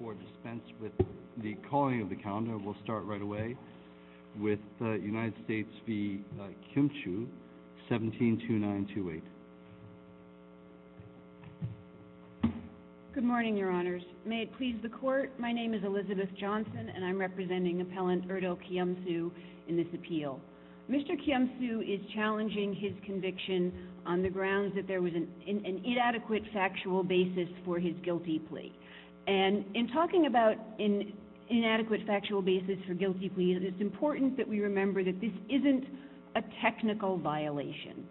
172928. Good morning, Your Honors. May it please the Court, my name is Elizabeth Johnson, and I'm representing Appellant Erdo Kiyomizu in this appeal. Mr. Kiyomizu is challenging his conviction on the grounds that there was an inadequate factual basis for guilty plea, and it's important that we remember that this isn't a technical violation.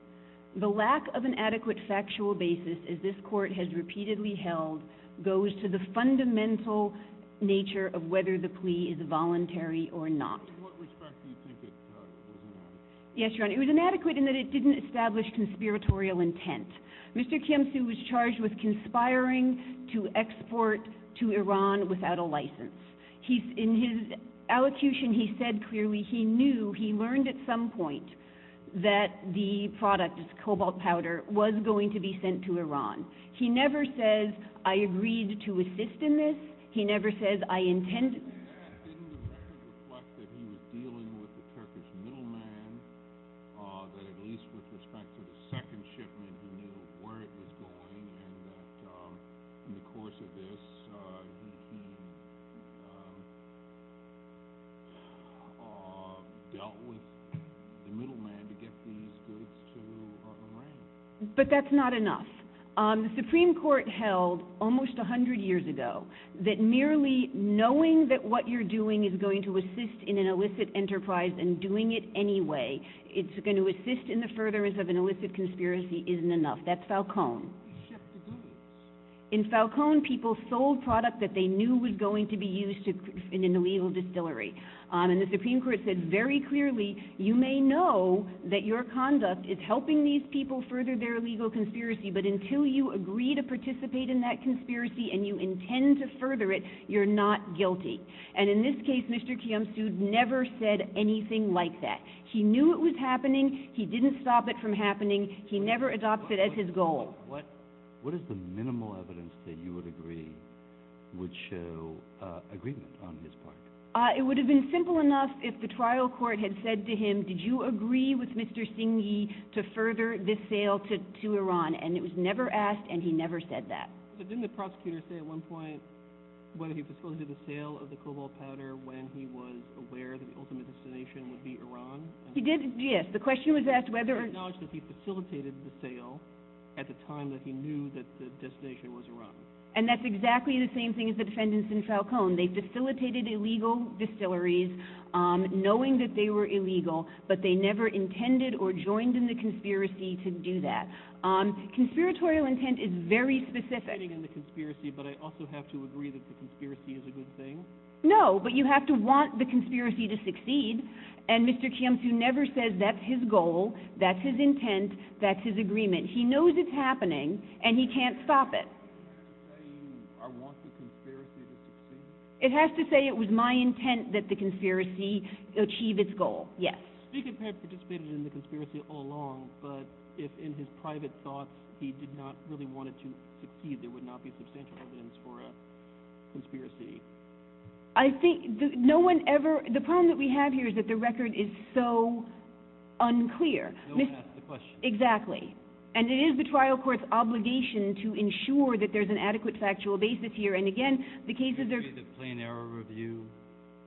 The lack of an adequate factual basis, as this Court has repeatedly held, goes to the fundamental nature of whether the plea is voluntary or not. In what respect do you think it was inadequate? Yes, Your Honor, it was inadequate in that it didn't establish conspiratorial intent. Mr. Kiyomizu was charged with conspiring to export to Iran without a license. In his allocution, he said clearly he knew, he learned at some point, that the product, cobalt powder, was going to be sent to Iran. He never says, I agreed to assist in this. He never says, I intended to. Didn't the record reflect that he was dealing with the Turkish middleman, that at least with respect to the second shipment, he knew where it was going, and that in the course of this, he dealt with the middleman to get these goods to Iran? But that's not enough. The Supreme Court held almost 100 years ago that merely knowing that what you're doing is going to assist in an illicit enterprise and doing it anyway, it's going to assist in the furtherance of an illicit conspiracy, isn't enough. That's Falcone. In Falcone, people sold product that they knew was going to be used in an illegal distillery. And the Supreme Court said very clearly, you may know that your conduct is helping these people further their illegal conspiracy, but until you agree to participate in that conspiracy and you intend to further it, you're not guilty. And in this case, Mr. Kiyomizu never said anything like that. He knew it was happening. He didn't stop it from happening. He never adopted it as his goal. What is the minimal evidence that you would agree would show agreement on his part? It would have been simple enough if the trial court had said to him, did you agree with Mr. Singhi to further this sale to Iran? And it was never asked, and he never said that. Didn't the prosecutor say at one point whether he facilitated the sale of the cobalt powder when he was aware that the ultimate destination would be Iran? He did, yes. The question was asked whether or not... Did he acknowledge that he facilitated the sale at the time that he knew that the destination was Iran? And that's exactly the same thing as the defendants in Falcone. They facilitated illegal distilleries, knowing that they were illegal, but they never intended or joined in the conspiracy to do that. Conspiratorial intent is very specific. Joining in the conspiracy, but I also have to agree that the conspiracy is a good thing? No, but you have to want the conspiracy to succeed, and Mr. Kiyomizu never says that's his goal, that's his intent, that's his agreement. He knows it's happening, and he can't stop it. It has to say, I want the conspiracy to succeed? It has to say it was my intent that the conspiracy achieve its goal, yes. Spiegel had participated in the conspiracy all along, but if in his private thoughts he did not really want it to succeed, there would not be substantial evidence for a conspiracy. I think no one ever... the problem that we have here is that the record is so unclear. No one asked the question. Exactly, and it is the trial court's obligation to ensure that there's an adequate factual basis here, and again, the cases are... Do you think the plain error review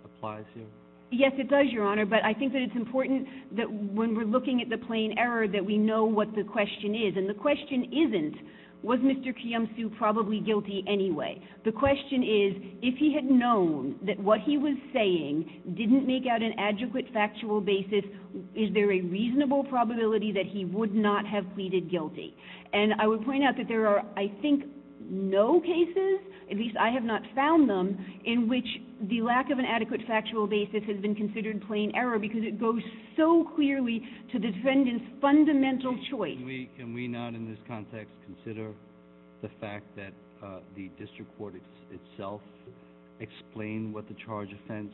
applies here? Yes, it does, Your Honor, but I think that it's important that when we're looking at the plain error that we know what the question is, and the question isn't, was Mr. Kiyomizu probably guilty anyway? The question is, if he had known that what he was saying didn't make out an adequate factual basis, is there a reasonable probability that he would not have pleaded guilty? And I would point out that there are, I think, no cases, at least I have not found them, in which the lack of an adequate factual basis has been considered plain error because it goes so clearly to the defendant's fundamental choice. Can we not in this context consider the fact that the district court itself explained what the charge offense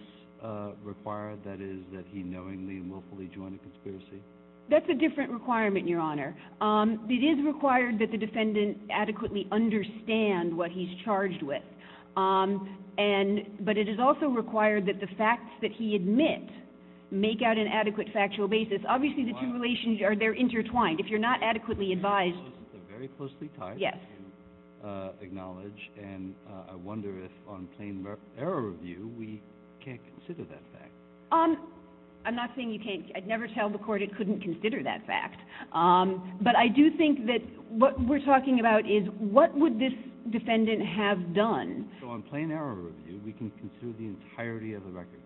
required, that is, that he knowingly and willfully joined a conspiracy? That's a different requirement, Your Honor. It is required that the defendant adequately understand what he's charged with, but it is also required that the facts that he admits make out an adequate factual basis. Obviously, the two relations are intertwined. If you're not adequately advised... And I wonder if on plain error review, we can't consider that fact. I'm not saying you can't. I'd never tell the court it couldn't consider that fact. But I do think that what we're talking about is, what would this defendant have done? So on plain error review, we can consider the entirety of the record.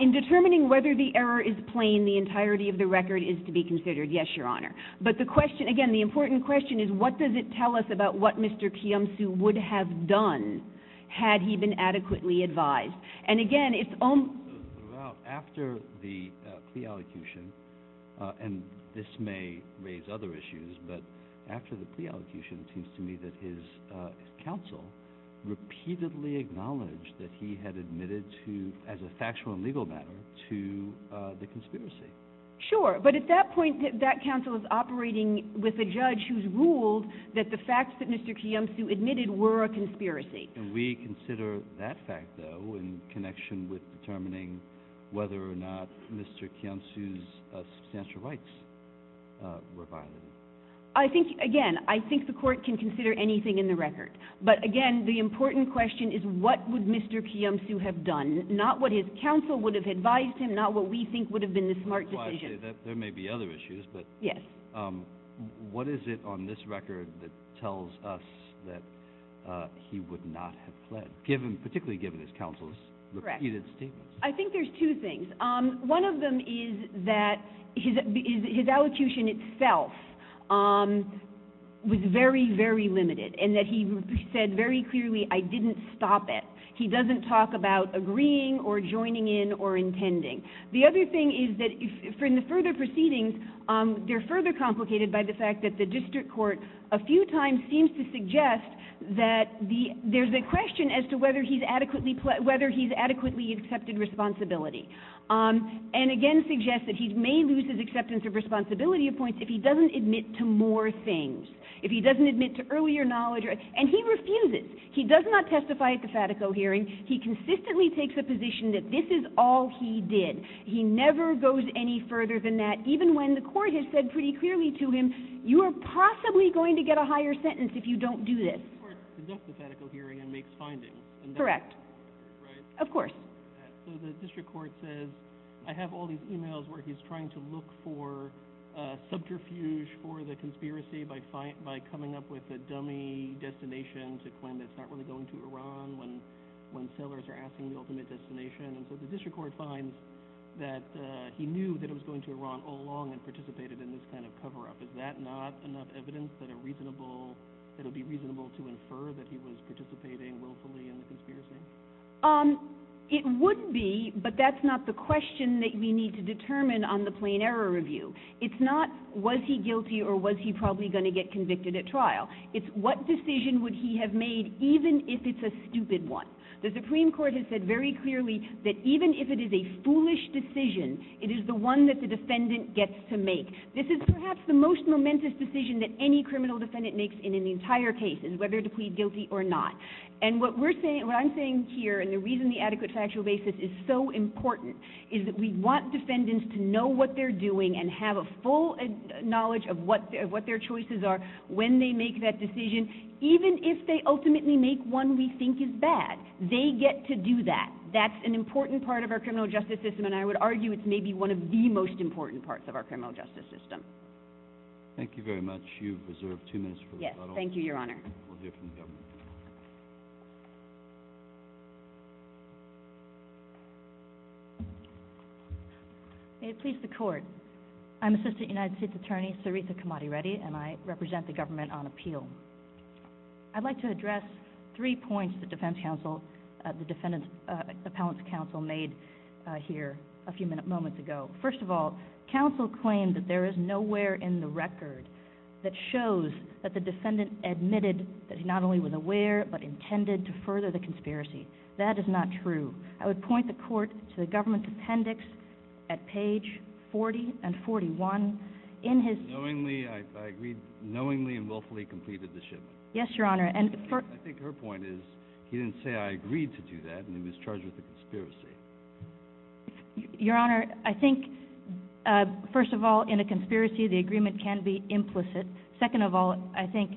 In determining whether the error is plain, the entirety of the record is to be considered, yes, Your Honor. But the question, again, the important question is, what does it tell us about what Mr. Kiyomizu would have done had he been adequately advised? And again, it's almost... Well, after the plea allocution, and this may raise other issues, but after the plea allocution, it seems to me that his counsel repeatedly acknowledged that he had admitted to, as a factual and legal matter, to the conspiracy. Sure. But at that point, that counsel is operating with a judge who's ruled that the facts that Mr. Kiyomizu admitted were a conspiracy. Can we consider that fact, though, in connection with determining whether or not Mr. Kiyomizu's substantial rights were violated? I think, again, I think the court can consider anything in the record. But again, the important question is, what would Mr. Kiyomizu have done? Not what his counsel would have advised him, not what we think would have been the smart decision. There may be other issues, but... Yes. What is it on this record that tells us that he would not have fled, particularly given his counsel's repeated statements? Correct. I think there's two things. One of them is that his allocution itself was very, very limited, and that he said very clearly, I didn't stop it. He doesn't talk about agreeing or joining in or intending. The other thing is that in the further proceedings, they're further complicated by the fact that the district court a few times seems to suggest that there's a question as to whether he's adequately accepted responsibility, and again suggests that he may lose his acceptance of responsibility points if he doesn't admit to more things, if he doesn't admit to earlier knowledge. And he refuses. He does not testify at the FATICO hearing. He consistently takes a position that this is all he did. He never goes any further than that, even when the court has said pretty clearly to him, you are possibly going to get a higher sentence if you don't do this. The court conducts the FATICO hearing and makes findings. Correct. Right? Of course. So the district court says, I have all these emails where he's trying to look for subterfuge for the conspiracy by coming up with a dummy destination to claim that it's not really going to Iran when sailors are asking the ultimate destination, and so the district court finds that he knew that it was going to Iran all along and participated in this kind of cover-up. Is that not enough evidence that it would be reasonable to infer that he was participating willfully in the conspiracy? It would be, but that's not the question that we need to determine on the plain error review. It's not, was he guilty or was he probably going to get convicted at trial? It's what decision would he have made, even if it's a stupid one? The Supreme Court has said very clearly that even if it is a foolish decision, it is the one that the defendant gets to make. This is perhaps the most momentous decision that any criminal defendant makes in an entire case, is whether to plead guilty or not. And what we're saying, what I'm saying here, and the reason the adequate factual basis is so important is that we want defendants to know what they're doing and have a full knowledge of what their choices are when they make that decision, even if they ultimately make one we think is bad. They get to do that. That's an important part of our criminal justice system, and I would argue it's maybe one of the most important parts of our criminal justice system. Thank you very much. You've reserved two minutes for rebuttal. Yes, thank you, Your Honor. We'll hear from the government. May it please the Court. I'm Assistant United States Attorney Sarita Kamadi Reddy, and I represent the government on appeal. I'd like to address three points the defense counsel, the defendant's appellant's counsel made here a few moments ago. First of all, counsel claimed that there is nowhere in the record that shows that the defendant admitted that he not only was aware but intended to further the conspiracy. That is not true. I would point the Court to the government's appendix at page 40 and 41. I agreed knowingly and willfully completed the shipment. Yes, Your Honor. I think her point is he didn't say, I agreed to do that, and he was charged with a conspiracy. Your Honor, I think, first of all, in a conspiracy the agreement can be implicit. Second of all, I think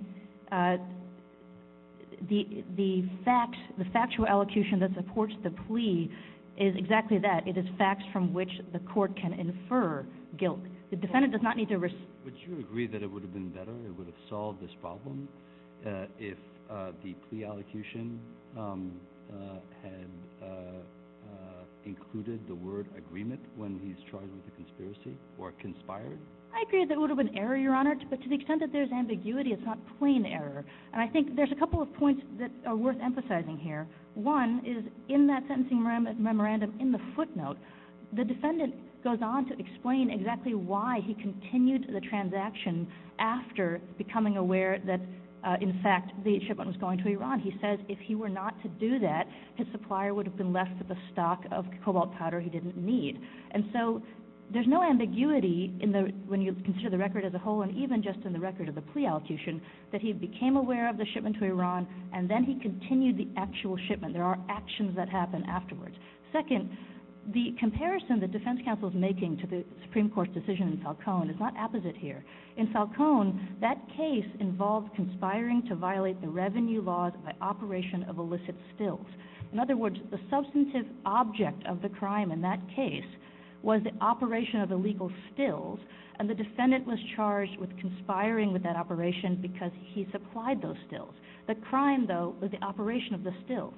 the factual elocution that supports the plea is exactly that. It is facts from which the Court can infer guilt. The defendant does not need to... Would you agree that it would have been better, it would have solved this problem if the plea elocution had included the word agreement when he's charged with a conspiracy or conspired? I agree that it would have been error, Your Honor, but to the extent that there's ambiguity, it's not plain error. And I think there's a couple of points that are worth emphasizing here. One is in that sentencing memorandum, in the footnote, the defendant goes on to explain exactly why he continued the transaction after becoming aware that, in fact, the shipment was going to Iran. He says if he were not to do that, his supplier would have been left with a stock of cobalt powder he didn't need. And so there's no ambiguity when you consider the record as a whole, and even just in the record of the plea elocution, that he became aware of the shipment to Iran, and then he continued the actual shipment. There are actions that happen afterwards. Second, the comparison the defense counsel is making to the Supreme Court's decision in Falcone is not opposite here. In Falcone, that case involved conspiring to violate the revenue laws by operation of illicit stills. In other words, the substantive object of the crime in that case was the operation of illegal stills, and the defendant was charged with conspiring with that operation because he supplied those stills. The crime, though, was the operation of the stills.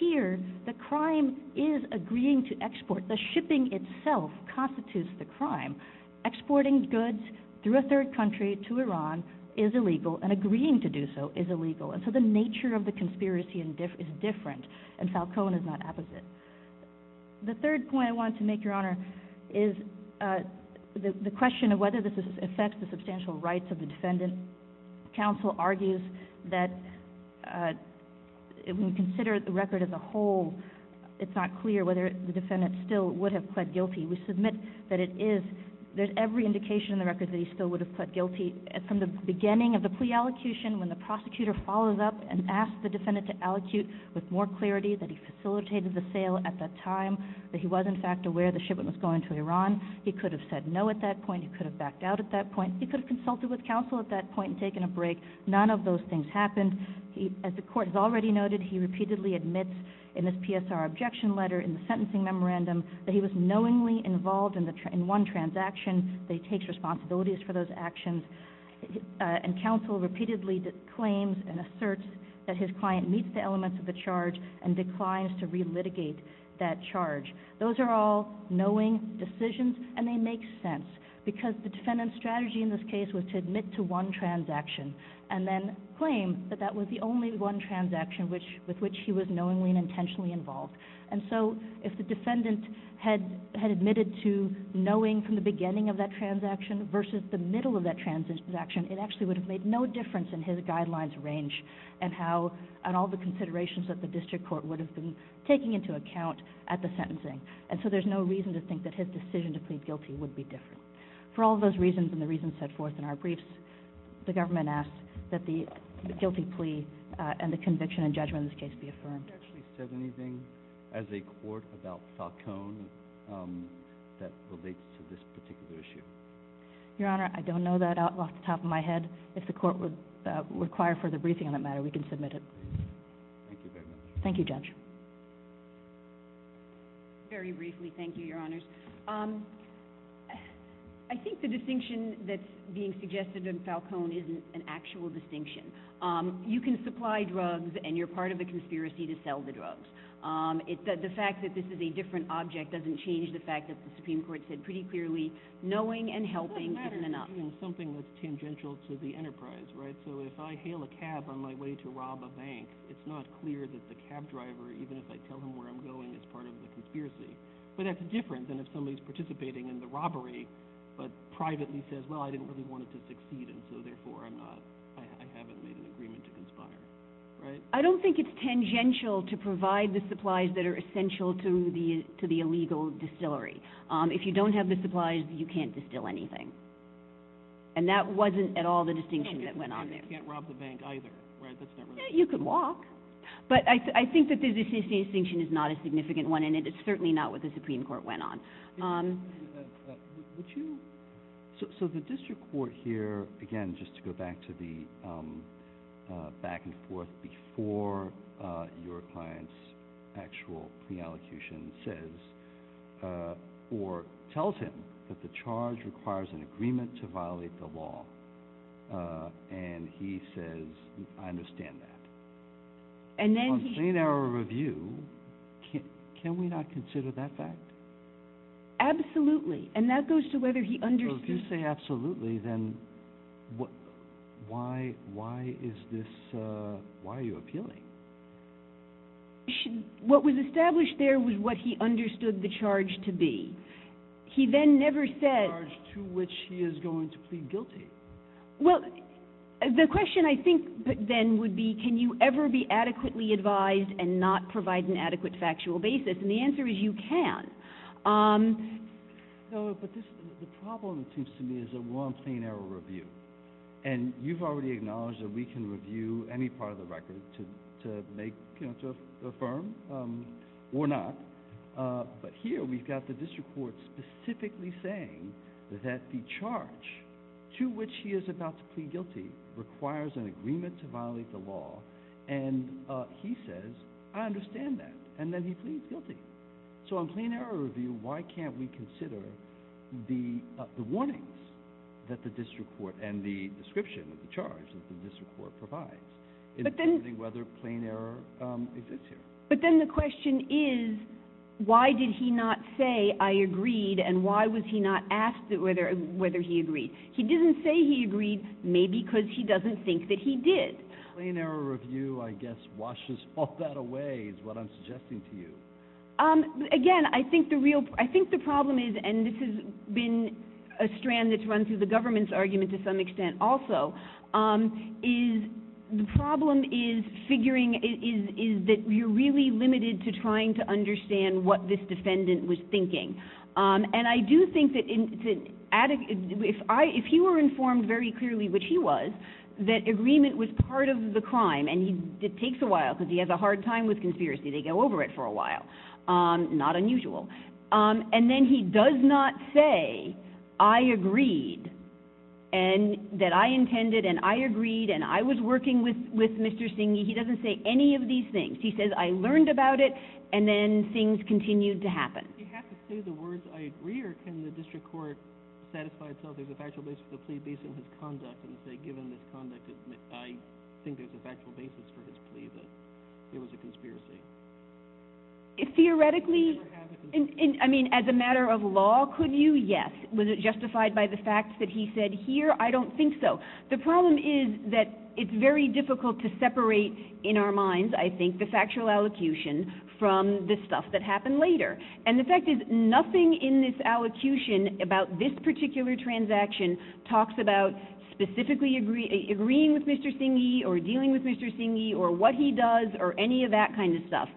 Here, the crime is agreeing to export. The shipping itself constitutes the crime. Exporting goods through a third country to Iran is illegal, and agreeing to do so is illegal. And so the nature of the conspiracy is different, and Falcone is not opposite. The third point I wanted to make, Your Honor, is the question of whether this affects the substantial rights of the defendant. Counsel argues that when you consider the record as a whole, it's not clear whether the defendant still would have pled guilty. We submit that it is. There's every indication in the record that he still would have pled guilty. From the beginning of the plea allocution, when the prosecutor follows up and asks the defendant to allocute with more clarity that he facilitated the sale at that time, that he was, in fact, aware the shipment was going to Iran, he could have said no at that point. He could have backed out at that point. He could have consulted with counsel at that point and taken a break. None of those things happened. As the Court has already noted, he repeatedly admits in his PSR objection letter in the sentencing memorandum that he was knowingly involved in one transaction, that he takes responsibilities for those actions, and counsel repeatedly claims and asserts that his client meets the elements of the charge and declines to relitigate that charge. Those are all knowing decisions, and they make sense because the defendant's strategy in this case was to admit to one transaction and then claim that that was the only one transaction with which he was knowingly and intentionally involved. And so if the defendant had admitted to knowing from the beginning of that transaction versus the middle of that transaction, it actually would have made no difference in his guidelines range and how, and all the considerations that the district court would have been taking into account at the sentencing. And so there's no reason to think that his decision to plead guilty would be different. For all those reasons and the reasons set forth in our briefs, the government asks that the guilty plea and the conviction and judgment in this case be affirmed. Have you actually said anything as a court about Falcone that relates to this particular issue? Your Honor, I don't know that off the top of my head. If the court would require further briefing on that matter, we can submit it. Thank you very much. Thank you, Judge. Very briefly, thank you, Your Honors. I think the distinction that's being suggested in Falcone isn't an actual distinction. You can supply drugs and you're part of the conspiracy to sell the drugs. The fact that this is a different object doesn't change the fact that the Supreme Court said pretty clearly, knowing and helping isn't enough. It doesn't matter if you're doing something that's tangential to the enterprise, right? So if I hail a cab on my way to rob a bank, it's not clear that the cab driver, even if I tell him where I'm going, is part of the conspiracy. But that's different than if somebody's participating in the robbery but privately says, well, I didn't really want it to succeed and so therefore I haven't made an agreement to conspire. Right? I don't think it's tangential to provide the supplies that are essential to the illegal distillery. If you don't have the supplies, you can't distill anything. And that wasn't at all the distinction that went on there. You can't rob the bank either, right? You could walk. But I think that the distinction is not a significant one and it's certainly not what the Supreme Court went on. So the district court here, again, just to go back to the back and forth before your client's actual pre-allocution says or tells him that the charge requires an agreement to violate the law and he says, I understand that. On plain error of review, can we not consider that fact? Absolutely. And that goes to whether he understood. So if you say absolutely, then why is this, why are you appealing? What was established there was what he understood the charge to be. He then never said. The charge to which he is going to plead guilty. Well, the question I think then would be, can you ever be adequately advised and not provide an adequate factual basis? And the answer is you can. No, but the problem seems to me is that we're on plain error of review. And you've already acknowledged that we can review any part of the record to make, you know, to affirm or not. But here we've got the district court specifically saying that the charge to which he is about to plead guilty requires an agreement to violate the law. And he says, I understand that. And then he pleads guilty. So on plain error of review, why can't we consider the warnings that the district court and the description of the charge that the district court provides in determining whether plain error exists here? But then the question is, why did he not say, I agreed, and why was he not asked whether he agreed? He didn't say he agreed, maybe because he doesn't think that he did. Plain error of review, I guess, washes all that away is what I'm suggesting to you. Again, I think the problem is, and this has been a strand that's run through the government's case to some extent also, is the problem is figuring, is that you're really limited to trying to understand what this defendant was thinking. And I do think that if he were informed very clearly, which he was, that agreement was part of the crime, and it takes a while because he has a hard time with conspiracy. They go over it for a while. Not unusual. And then he does not say, I agreed, and that I intended, and I agreed, and I was working with Mr. Singh. He doesn't say any of these things. He says, I learned about it, and then things continued to happen. Do you have to say the words, I agree, or can the district court satisfy itself there's a factual basis for the plea based on his conduct and say, given this conduct, I think Theoretically, I mean, as a matter of law, could you? Yes. Was it justified by the fact that he said here? I don't think so. The problem is that it's very difficult to separate in our minds, I think, the factual allocution from the stuff that happened later. And the fact is, nothing in this allocution about this particular transaction talks about specifically agreeing with Mr. Singh, or dealing with Mr. Singh, or what he does, or any of that kind of stuff.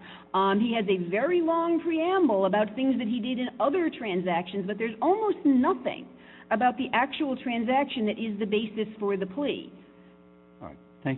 He has a very long preamble about things that he did in other transactions, but there's almost nothing about the actual transaction that is the basis for the plea. All right.